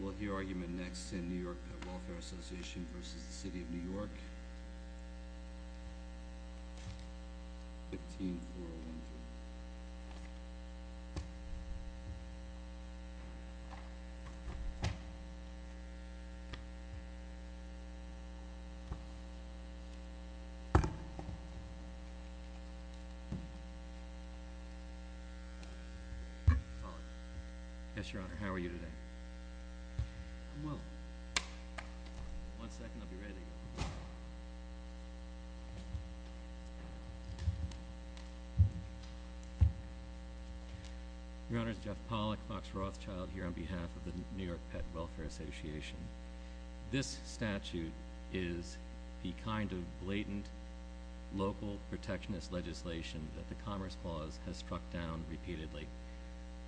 We'll hear argument next in New York Pet Welfare Association vs. the City of New York, 15-4-1-3. We'll hear argument next in New York Pet Welfare Association vs. the City of New York, 15-4-1-3. Your Honor, it's Jeff Pollack, Box Rothschild here on behalf of the New York Pet Welfare Association. This statute is the kind of blatant local protectionist legislation that the Commerce Clause has struck down repeatedly.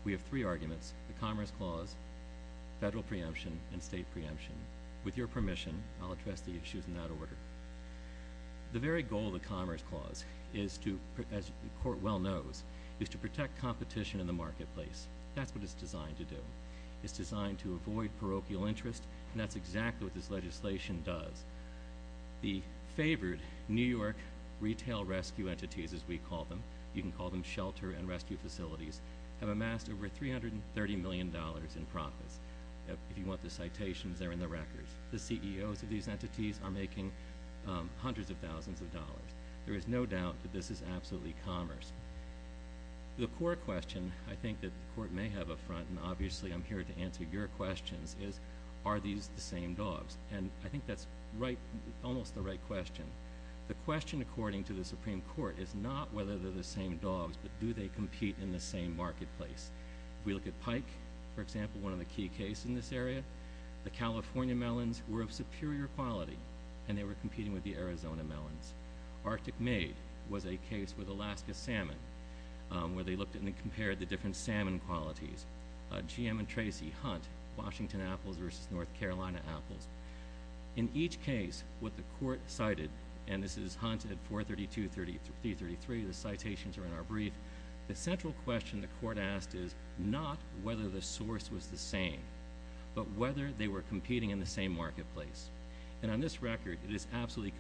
We have three arguments, the Commerce Clause, federal preemption, and state preemption. With your permission, I'll address the issues in that order. The very goal of the Commerce Clause, as the Court well knows, is to protect competition in the marketplace. That's what it's designed to do. It's designed to avoid parochial interest, and that's exactly what this legislation does. The favored New York retail rescue entities, as we call them, you can call them shelter and rescue facilities, have amassed over $330 million in profits. If you want the citations, they're in the records. The CEOs of these entities are making hundreds of thousands of dollars. There is no doubt that this is absolutely commerce. The core question I think that the Court may have up front, and obviously I'm here to answer your questions, is are these the same dogs? And I think that's almost the right question. The question, according to the Supreme Court, is not whether they're the same dogs, but do they compete in the same marketplace? If we look at Pike, for example, one of the key cases in this area, the California melons were of superior quality, and they were competing with the Arizona melons. Arctic Maid was a case with Alaska salmon, where they looked at and compared the different salmon qualities. GM and Tracy Hunt, Washington apples versus North Carolina apples. In each case, what the Court cited, and this is Hunt at 432-333, the citations are in our brief. The central question the Court asked is not whether the source was the same, but whether they were competing in the same marketplace. And on this record, it is absolutely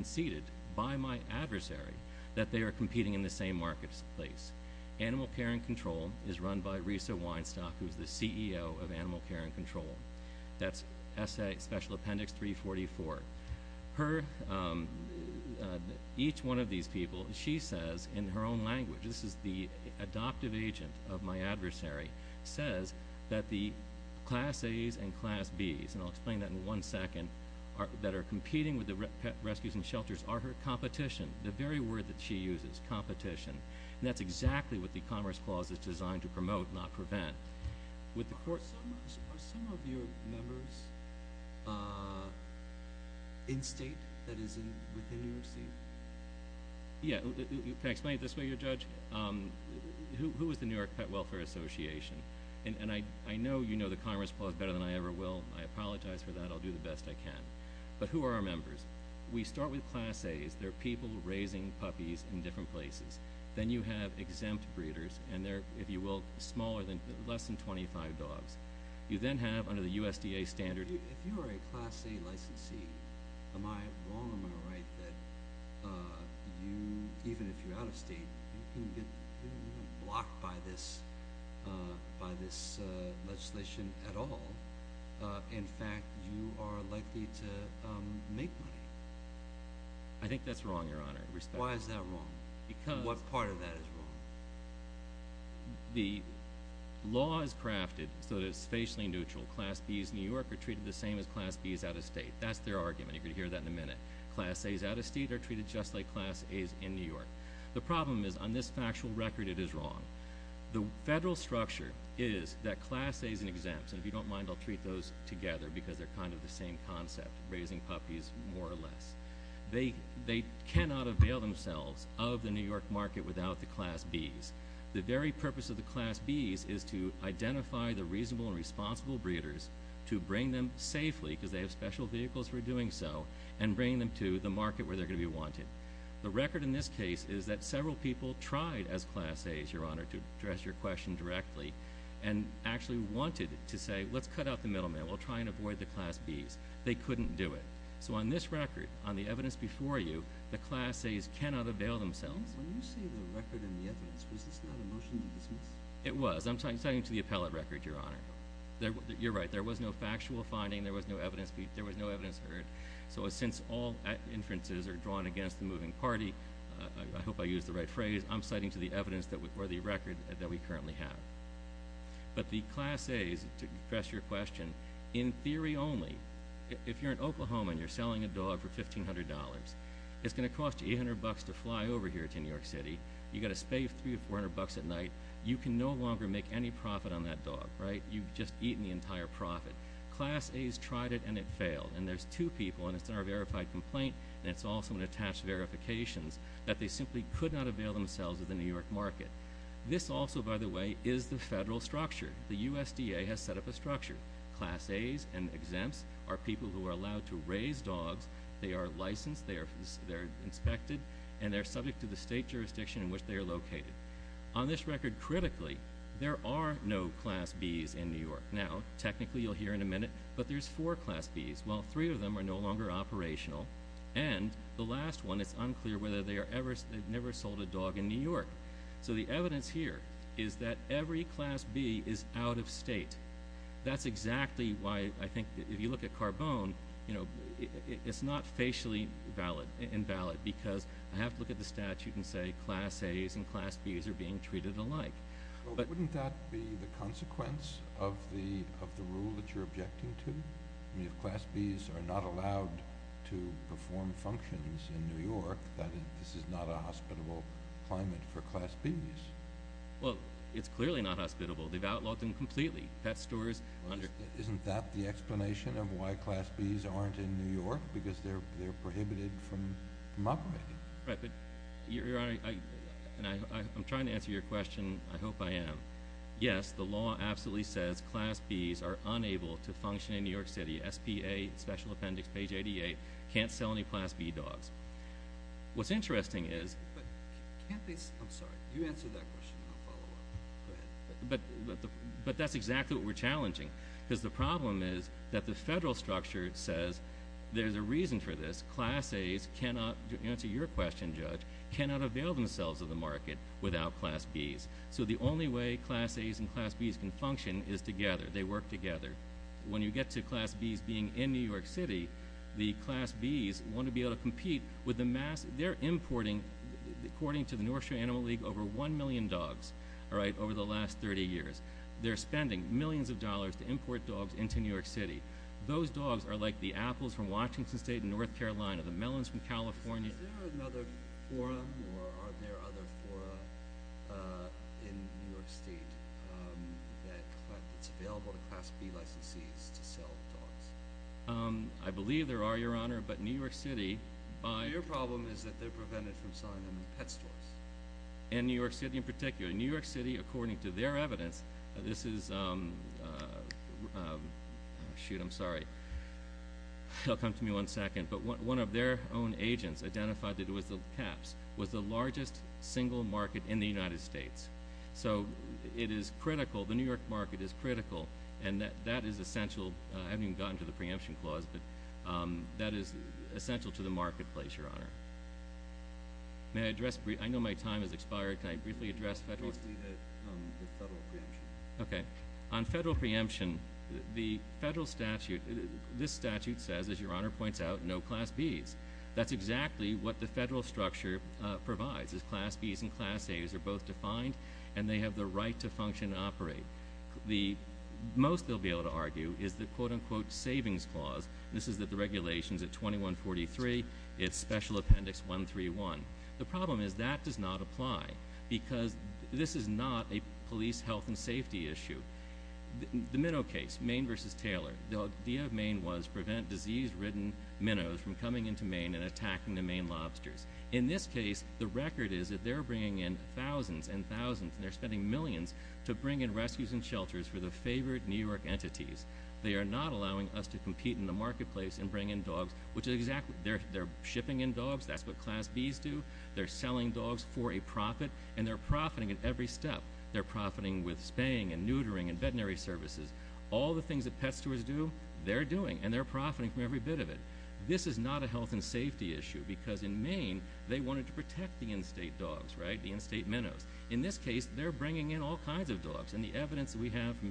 conceded by my adversary that they are competing in the same marketplace. Animal Care and Control is run by Risa Weinstock, who is the CEO of Animal Care and Control. That's S.A. Special Appendix 344. Each one of these people, she says in her own language, this is the adoptive agent of my adversary, says that the Class A's and Class B's, and I'll explain that in one second, that are competing with the pet rescues and shelters are her competition. The very word that she uses, competition. And that's exactly what the Commerce Clause is designed to promote, not prevent. Are some of your members in state that is within your seat? Yeah. Can I explain it this way, Judge? Who is the New York Pet Welfare Association? And I know you know the Commerce Clause better than I ever will. I apologize for that. I'll do the best I can. But who are our members? We start with Class A's. They're people raising puppies in different places. Then you have exempt breeders, and they're, if you will, smaller than, less than 25 dogs. You then have, under the USDA standard If you are a Class A licensee, am I wrong or am I right that you, even if you're out of state, you can get blocked by this legislation at all? In fact, you are likely to make money. I think that's wrong, Your Honor. Why is that wrong? What part of that is wrong? The law is crafted so that it's facially neutral. Class B's in New York are treated the same as Class B's out of state. That's their argument. You're going to hear that in a minute. Class A's out of state are treated just like Class A's in New York. The problem is, on this factual record, it is wrong. The federal structure is that Class A's and exempts, and if you don't mind, I'll treat those together because they're kind of the same concept, raising puppies more or less. They cannot avail themselves of the New York market without the Class B's. The very purpose of the Class B's is to identify the reasonable and responsible breeders, to bring them safely, because they have special vehicles for doing so, and bring them to the market where they're going to be wanted. The record in this case is that several people tried as Class A's, Your Honor, to address your question directly, and actually wanted to say, let's cut out the middleman. We'll try and avoid the Class B's. They couldn't do it. So on this record, on the evidence before you, the Class A's cannot avail themselves. When you say the record and the evidence, was this not a motion to dismiss? It was. I'm citing to the appellate record, Your Honor. You're right. There was no factual finding. There was no evidence heard. So since all inferences are drawn against the moving party, I hope I used the right phrase, I'm citing to the record that we currently have. But the Class A's, to address your question, in theory only, if you're in Oklahoma and you're selling a dog for $1,500, it's going to cost you $800 to fly over here to New York City. You've got to spay $300 or $400 at night. You can no longer make any profit on that dog, right? You've just eaten the entire profit. Class A's tried it and it failed. And there's two people, and it's in our verified complaint, and it's also in attached verifications, that they simply could not avail themselves of the New York market. This also, by the way, is the federal structure. The USDA has set up a structure. Class A's and exempts are people who are allowed to raise dogs. They are licensed. They are inspected. And they're subject to the state jurisdiction in which they are located. On this record, critically, there are no Class B's in New York. Now, technically, you'll hear in a minute, but there's four Class B's. Well, three of them are no longer operational. And the last one, it's unclear whether they never sold a dog in New York. So the evidence here is that every Class B is out of state. That's exactly why I think if you look at Carbone, it's not facially invalid because I have to look at the statute and say Class A's and Class B's are being treated alike. But wouldn't that be the consequence of the rule that you're objecting to? I mean, if Class B's are not allowed to perform functions in New York, this is not a hospitable climate for Class B's. Well, it's clearly not hospitable. They've outlawed them completely, pet stores. Isn't that the explanation of why Class B's aren't in New York? Because they're prohibited from operating. Right, but, Your Honor, I'm trying to answer your question. I hope I am. Yes, the law absolutely says Class B's are unable to function in New York City. SPA, special appendix, page 88, can't sell any Class B dogs. What's interesting is— But can't they—I'm sorry. You answer that question, and I'll follow up. Go ahead. But that's exactly what we're challenging. Because the problem is that the federal structure says there's a reason for this. Class A's cannot—to answer your question, Judge—cannot avail themselves of the market without Class B's. So the only way Class A's and Class B's can function is together. They work together. When you get to Class B's being in New York City, the Class B's want to be able to compete with the mass— According to the North Shore Animal League, over 1 million dogs over the last 30 years. They're spending millions of dollars to import dogs into New York City. Those dogs are like the apples from Washington State and North Carolina, the melons from California. Is there another forum, or are there other fora in New York State that's available to Class B licensees to sell dogs? I believe there are, Your Honor, but New York City— So your problem is that they're prevented from selling them in pet stores? In New York City in particular. In New York City, according to their evidence, this is— Shoot, I'm sorry. They'll come to me one second. But one of their own agents identified that it was the—caps—was the largest single market in the United States. So it is critical—the New York market is critical, and that is essential. I haven't even gotten to the preemption clause, but that is essential to the marketplace, Your Honor. May I address—I know my time has expired. Can I briefly address federal— Mostly the federal preemption. Okay. On federal preemption, the federal statute—this statute says, as Your Honor points out, no Class B's. That's exactly what the federal structure provides, is Class B's and Class A's are both defined, and they have the right to function and operate. The most they'll be able to argue is the quote-unquote savings clause. This is that the regulation is at 2143. It's Special Appendix 131. The problem is that does not apply because this is not a police health and safety issue. The minnow case, Maine v. Taylor, the idea of Maine was prevent disease-ridden minnows from coming into Maine and attacking the Maine lobsters. In this case, the record is that they're bringing in thousands and thousands, and they're spending millions to bring in rescues and shelters for the favorite New York entities. They are not allowing us to compete in the marketplace and bring in dogs, which is exactly—they're shipping in dogs. That's what Class B's do. They're selling dogs for a profit, and they're profiting at every step. They're profiting with spaying and neutering and veterinary services. All the things that pet stores do, they're doing, and they're profiting from every bit of it. This is not a health and safety issue because, in Maine, they wanted to protect the in-state dogs, right, the in-state minnows. In this case, they're bringing in all kinds of dogs, and the evidence that we have from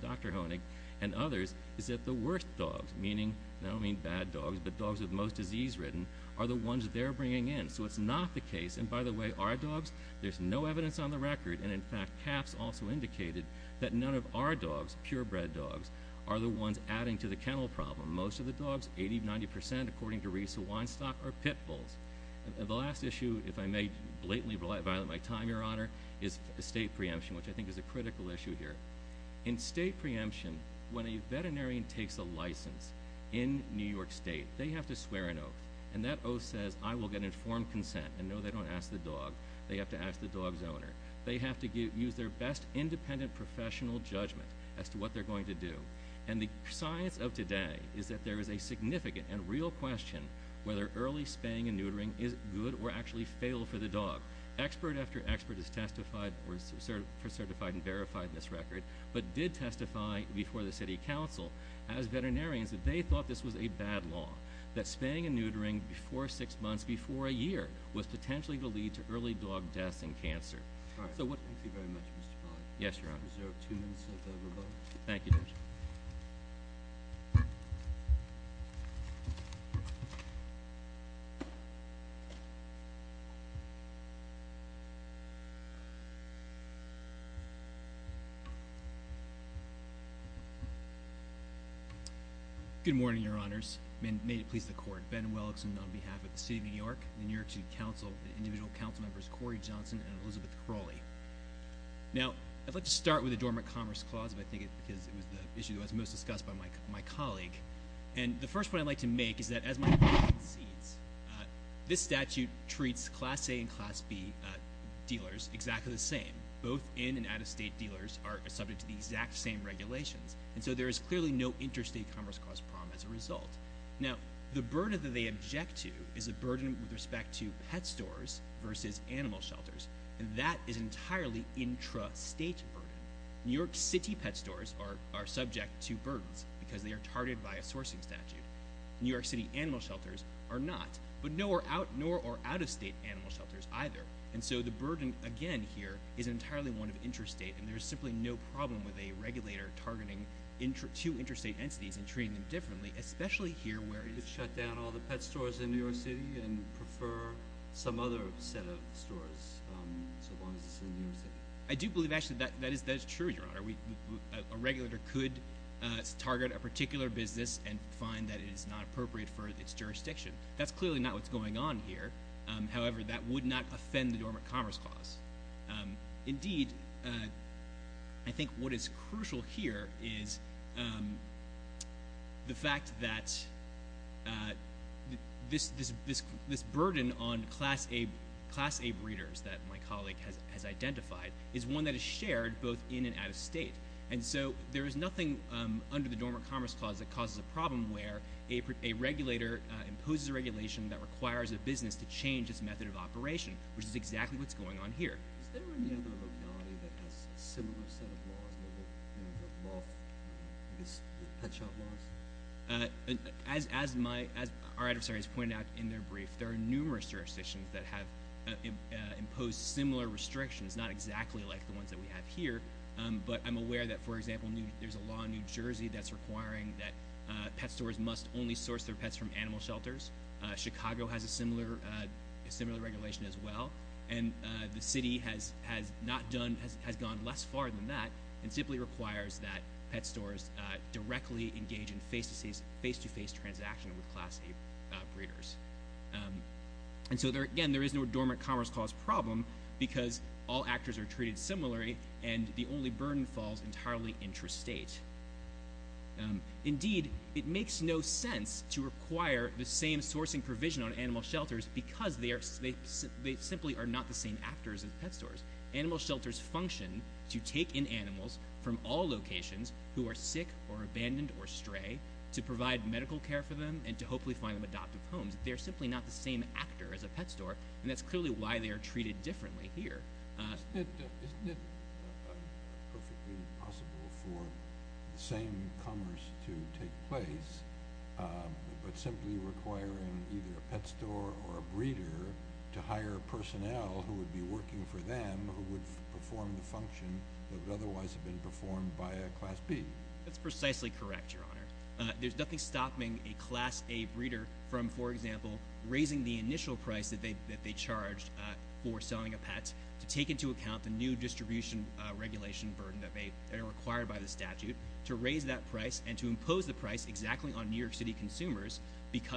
Dr. Honig and others is that the worst dogs, meaning—and I don't mean bad dogs, but dogs with the most disease-ridden—are the ones they're bringing in. So it's not the case, and by the way, our dogs, there's no evidence on the record, and in fact, CAPS also indicated that none of our dogs, purebred dogs, are the ones adding to the kennel problem. For most of the dogs, 80 to 90 percent, according to Risa Weinstock, are pit bulls. The last issue, if I may blatantly violate my time, Your Honor, is estate preemption, which I think is a critical issue here. In estate preemption, when a veterinarian takes a license in New York State, they have to swear an oath, and that oath says, I will get informed consent, and no, they don't ask the dog. They have to ask the dog's owner. They have to use their best independent professional judgment as to what they're going to do, and the science of today is that there is a significant and real question whether early spaying and neutering is good or actually fail for the dog. Expert after expert has certified and verified this record, but did testify before the City Council, as veterinarians, that they thought this was a bad law, that spaying and neutering before six months, before a year, was potentially to lead to early dog deaths and cancer. Thank you very much, Mr. Pollack. Yes, Your Honor. I reserve two minutes of rebuttal. Thank you, Judge. Good morning, Your Honors, and may it please the Court. Ben Wellickson on behalf of the City of New York, the New York City Council, individual council members Corey Johnson and Elizabeth Crowley. Now, I'd like to start with the Dormant Commerce Clause, because I think it was the issue that was most discussed by my colleague, and the first point I'd like to make is that as my time concedes, this statute treats Class A and Class B dealers exactly the same. Both in- and out-of-state dealers are subject to the exact same regulations, and so there is clearly no interstate commerce clause problem as a result. Now, the burden that they object to is a burden with respect to pet stores versus animal shelters, and that is an entirely intrastate burden. New York City pet stores are subject to burdens because they are targeted by a sourcing statute. New York City animal shelters are not, but nor are out-of-state animal shelters either, and so the burden, again, here is entirely one of interstate, and there is simply no problem with a regulator targeting two interstate entities and treating them differently, especially here where it is- Male Speaker You could shut down all the pet stores in New York City and prefer some other set of stores, so long as it's in New York City. Ben Wellickson I do believe, actually, that is true, Your Honor. A regulator could target a particular business and find that it is not appropriate for its jurisdiction. That's clearly not what's going on here. However, that would not offend the Dormant Commerce Clause. Indeed, I think what is crucial here is the fact that this burden on Class A breeders that my colleague has identified is one that is shared both in and out-of-state, and so there is nothing under the Dormant Commerce Clause that causes a problem where a regulator imposes a regulation that requires a business to change its method of operation, which is exactly what's going on here. Male Speaker Is there any other locality that has a similar set of laws, you know, the pet shop laws? Ben Wellickson As our adversaries pointed out in their brief, there are numerous jurisdictions that have imposed similar restrictions, not exactly like the ones that we have here, but I'm aware that, for example, there's a law in New Jersey that's requiring that pet stores must only source their pets from animal shelters. Chicago has a similar regulation as well, and the city has gone less far than that and simply requires that pet stores directly engage in face-to-face transaction with Class A breeders. And so, again, there is no Dormant Commerce Clause problem because all actors are treated similarly, and the only burden falls entirely intrastate. Indeed, it makes no sense to require the same sourcing provision on animal shelters because they simply are not the same actors as pet stores. Animal shelters function to take in animals from all locations who are sick or abandoned or stray to provide medical care for them and to hopefully find them adoptive homes. They're simply not the same actor as a pet store, and that's clearly why they are treated differently here. Isn't it perfectly possible for the same commerce to take place but simply requiring either a pet store or a breeder to hire personnel who would be working for them, who would perform the function that would otherwise have been performed by a Class B? That's precisely correct, Your Honor. There's nothing stopping a Class A breeder from, for example, raising the initial price that they charged for selling a pet to take into account the new distribution regulation burden that are required by the statute to raise that price and to impose the price exactly on New York City consumers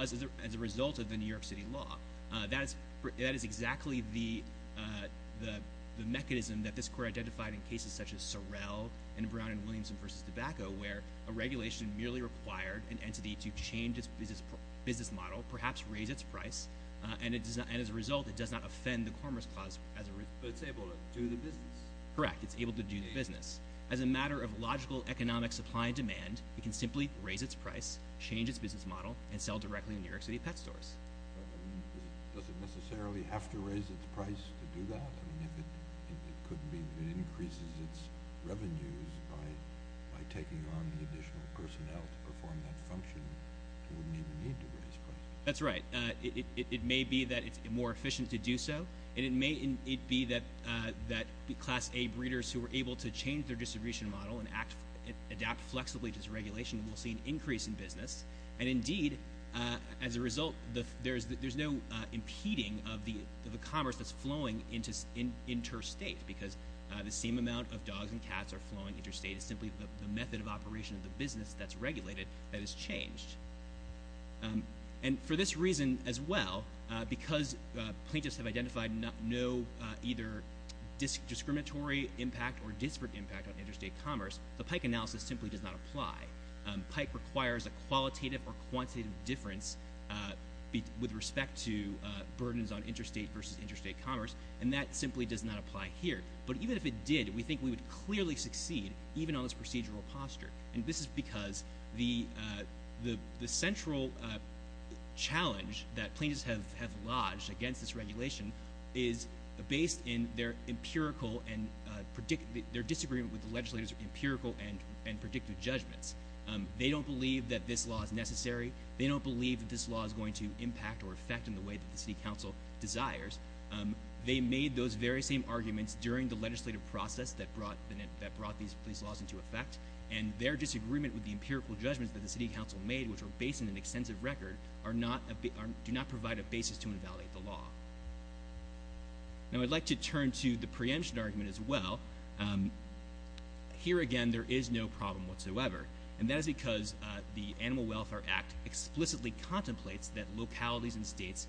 as a result of the New York City law. That is exactly the mechanism that this Court identified in cases such as Sorrel and Brown and Williamson v. Tobacco, where a regulation merely required an entity to change its business model, perhaps raise its price, and as a result, it does not offend the Commerce Clause as a result. But it's able to do the business. Correct. It's able to do the business. As a matter of logical economic supply and demand, it can simply raise its price, change its business model, and sell directly in New York City pet stores. Does it necessarily have to raise its price to do that? I mean, if it increases its revenues by taking on additional personnel to perform that function, it wouldn't even need to raise prices. That's right. It may be that it's more efficient to do so, and it may be that Class A breeders who are able to change their distribution model and adapt flexibly to this regulation will see an increase in business. And indeed, as a result, there's no impeding of the commerce that's flowing interstate, because the same amount of dogs and cats are flowing interstate. It's simply the method of operation of the business that's regulated that has changed. And for this reason as well, because plaintiffs have identified no either discriminatory impact or disparate impact on interstate commerce, the PIKE analysis simply does not apply. PIKE requires a qualitative or quantitative difference with respect to burdens on interstate versus interstate commerce, and that simply does not apply here. But even if it did, we think we would clearly succeed even on this procedural posture. And this is because the central challenge that plaintiffs have lodged against this regulation is based in their empirical and their disagreement with the legislator's empirical and predictive judgments. They don't believe that this law is necessary. They don't believe that this law is going to impact or affect in the way that the city council desires. They made those very same arguments during the legislative process that brought these laws into effect, and their disagreement with the empirical judgments that the city council made, which are based in an extensive record, do not provide a basis to invalidate the law. Now, I'd like to turn to the preemption argument as well. Here again, there is no problem whatsoever. And that is because the Animal Welfare Act explicitly contemplates that localities and states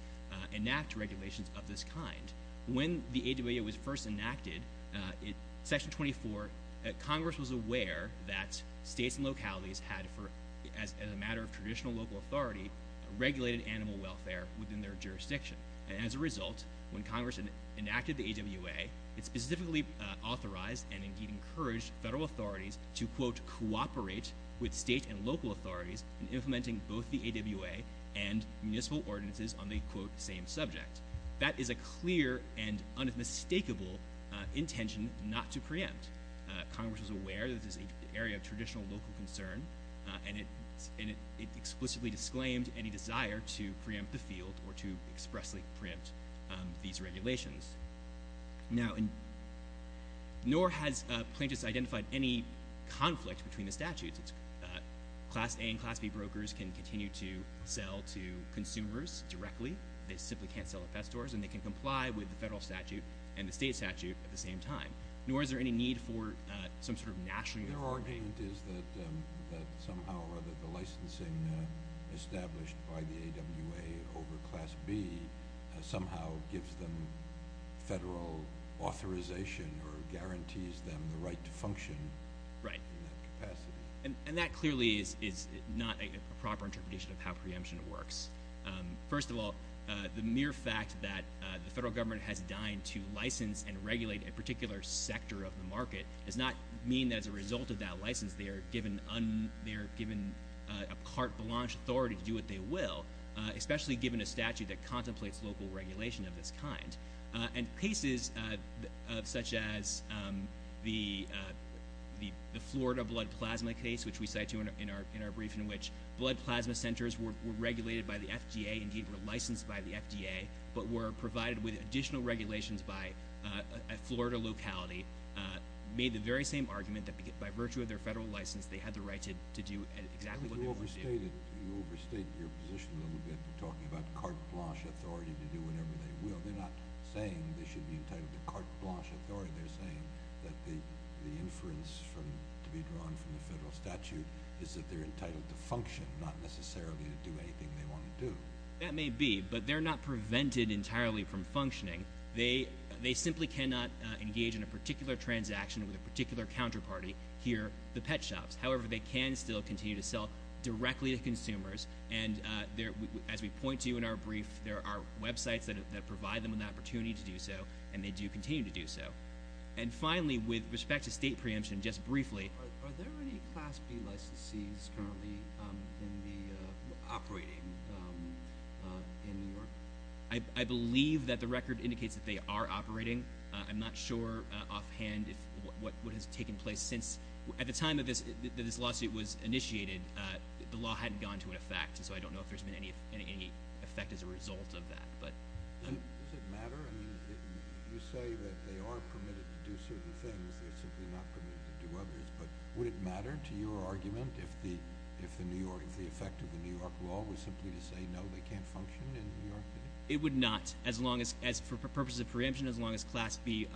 enact regulations of this kind. When the AWA was first enacted, Section 24, Congress was aware that states and localities had, as a matter of traditional local authority, regulated animal welfare within their jurisdiction. And as a result, when Congress enacted the AWA, it specifically authorized and indeed encouraged federal authorities to, quote, cooperate with state and local authorities in implementing both the AWA and municipal ordinances on the, quote, same subject. That is a clear and unmistakable intention not to preempt. Congress was aware that this is an area of traditional local concern, and it explicitly disclaimed any desire to preempt the field or to expressly preempt these regulations. Now, nor has plaintiffs identified any conflict between the statutes. Class A and Class B brokers can continue to sell to consumers directly. They simply can't sell at pet stores, and they can comply with the federal statute and the state statute at the same time. Nor is there any need for some sort of national authority. Their argument is that somehow or other the licensing established by the AWA over Class B somehow gives them federal authorization or guarantees them the right to function in that capacity. Right. And that clearly is not a proper interpretation of how preemption works. First of all, the mere fact that the federal government has dined to license and regulate a particular sector of the market does not mean that as a result of that license, they are given a carte blanche authority to do what they will, especially given a statute that contemplates local regulation of this kind. And cases such as the Florida blood plasma case, which we cited in our brief, in which blood plasma centers were regulated by the FDA, indeed were licensed by the FDA, but were provided with additional regulations by a Florida locality, made the very same argument that by virtue of their federal license, they had the right to do exactly what they wanted to do. You overstate your position a little bit in talking about carte blanche authority to do whatever they will. They're not saying they should be entitled to carte blanche authority. They're saying that the inference to be drawn from the federal statute is that they're entitled to function, not necessarily to do anything they want to do. That may be, but they're not prevented entirely from functioning. They simply cannot engage in a particular transaction with a particular counterparty here, the pet shops. However, they can still continue to sell directly to consumers, and as we point to in our brief, there are websites that provide them with the opportunity to do so, and they do continue to do so. And finally, with respect to state preemption, just briefly. Are there any Class B licensees currently operating in New York? I believe that the record indicates that they are operating. I'm not sure offhand what has taken place since. At the time that this lawsuit was initiated, the law hadn't gone to an effect, so I don't know if there's been any effect as a result of that. Does it matter? You say that they are permitted to do certain things. They're simply not permitted to do others. But would it matter to your argument if the effect of the New York law was simply to say, no, they can't function in New York? It would not for purposes of preemption as long as Class B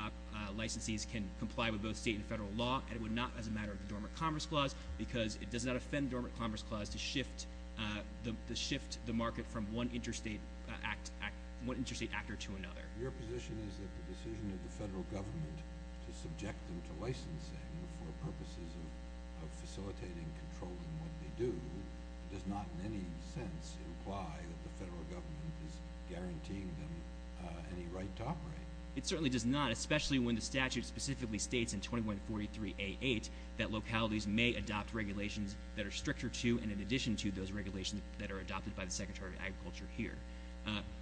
licensees can comply with both state and federal law, and it would not as a matter of the Dormant Commerce Clause because it does not offend the Dormant Commerce Clause to shift the market from one interstate actor to another. Your position is that the decision of the federal government to subject them to licensing for purposes of facilitating controlling what they do does not in any sense imply that the federal government is guaranteeing them any right to operate. It certainly does not, especially when the statute specifically states in 2143A8 that localities may adopt regulations that are stricter to and in addition to those regulations that are adopted by the Secretary of Agriculture here.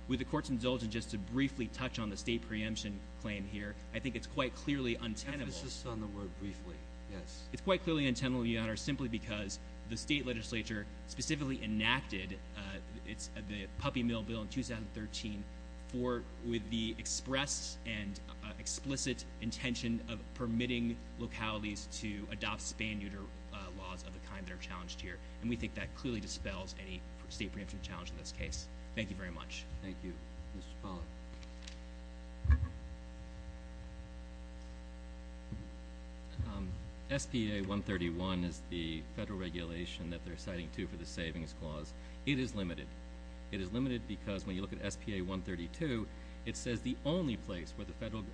With the Court's indulgence just to briefly touch on the state preemption claim here, I think it's quite clearly untenable. Emphasis on the word briefly, yes. It's quite clearly untenable, Your Honor, simply because the state legislature specifically enacted the Puppy Mill Bill in 2013 with the express and explicit intention of permitting localities to adopt span-neuter laws of the kind that are challenged here, and we think that clearly dispels any state preemption challenge in this case. Thank you very much. Thank you. Mr. Spaulding. SBA 131 is the federal regulation that they're citing, too, for the savings clause. It is limited. It is limited because when you look at SBA 132, it says the only place where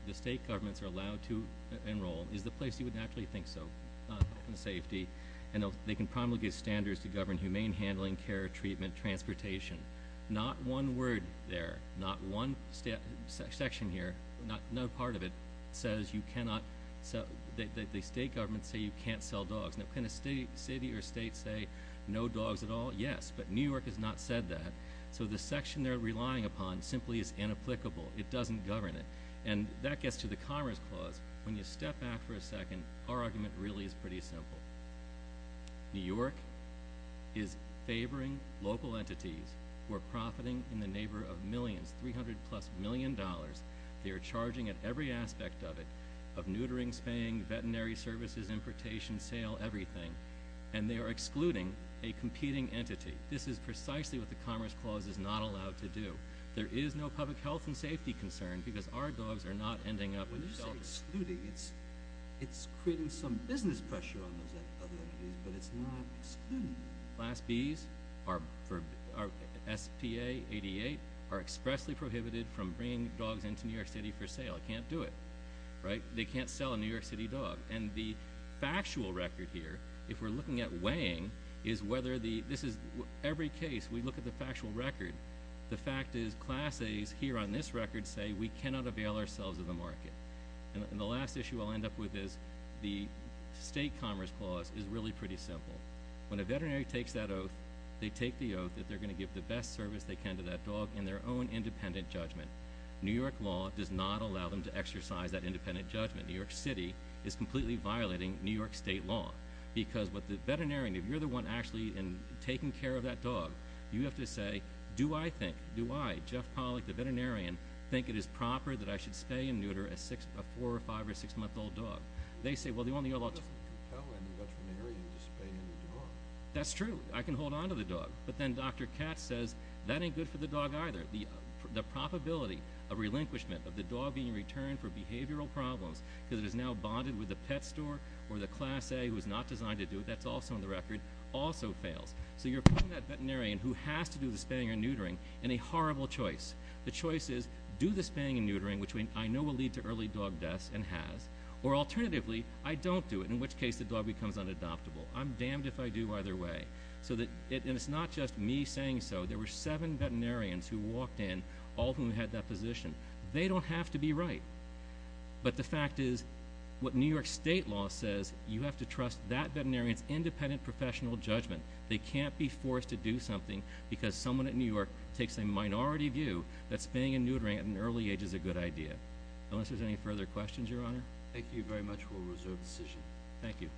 the state governments are allowed to enroll is the place you would naturally think so, not health and safety, and they can promulgate standards to govern humane handling, care, treatment, transportation. Not one word there, not one section here, no part of it says you cannot – the state governments say you can't sell dogs. Now, can a city or state say no dogs at all? Yes, but New York has not said that, so the section they're relying upon simply is inapplicable. It doesn't govern it, and that gets to the commerce clause. When you step back for a second, our argument really is pretty simple. New York is favoring local entities who are profiting in the neighbor of millions, 300-plus million dollars. They are charging at every aspect of it, of neutering, spaying, veterinary services, importation, sale, everything, and they are excluding a competing entity. This is precisely what the commerce clause is not allowed to do. There is no public health and safety concern because our dogs are not ending up with the government. It's creating some business pressure on those other entities, but it's not excluding them. Class Bs, SPA, 88, are expressly prohibited from bringing dogs into New York City for sale. They can't do it, right? They can't sell a New York City dog. And the factual record here, if we're looking at weighing, is whether the – this is – every case, we look at the factual record. The fact is Class As here on this record say we cannot avail ourselves of the market. And the last issue I'll end up with is the state commerce clause is really pretty simple. When a veterinary takes that oath, they take the oath that they're going to give the best service they can to that dog in their own independent judgment. New York law does not allow them to exercise that independent judgment. New York City is completely violating New York state law because with the veterinarian, if you're the one actually taking care of that dog, you have to say, do I think, do I, Jeff Pollack, the veterinarian, think it is proper that I should spay and neuter a four- or five- or six-month-old dog? They say, well, the only other option – It doesn't compel any veterinarian to spay any dog. That's true. I can hold onto the dog. But then Dr. Katz says that ain't good for the dog either. The probability of relinquishment, of the dog being returned for behavioral problems because it is now bonded with the pet store or the class A who is not designed to do it, that's also on the record, also fails. So you're putting that veterinarian who has to do the spaying and neutering in a horrible choice. The choice is do the spaying and neutering, which I know will lead to early dog deaths, and has. Or alternatively, I don't do it, in which case the dog becomes unadoptable. I'm damned if I do either way. And it's not just me saying so. There were seven veterinarians who walked in, all of whom had that position. They don't have to be right. But the fact is, what New York state law says, you have to trust that veterinarian's independent professional judgment. They can't be forced to do something because someone at New York takes a minority view that spaying and neutering at an early age is a good idea. Unless there's any further questions, Your Honor? Thank you very much for a reserved decision. Thank you.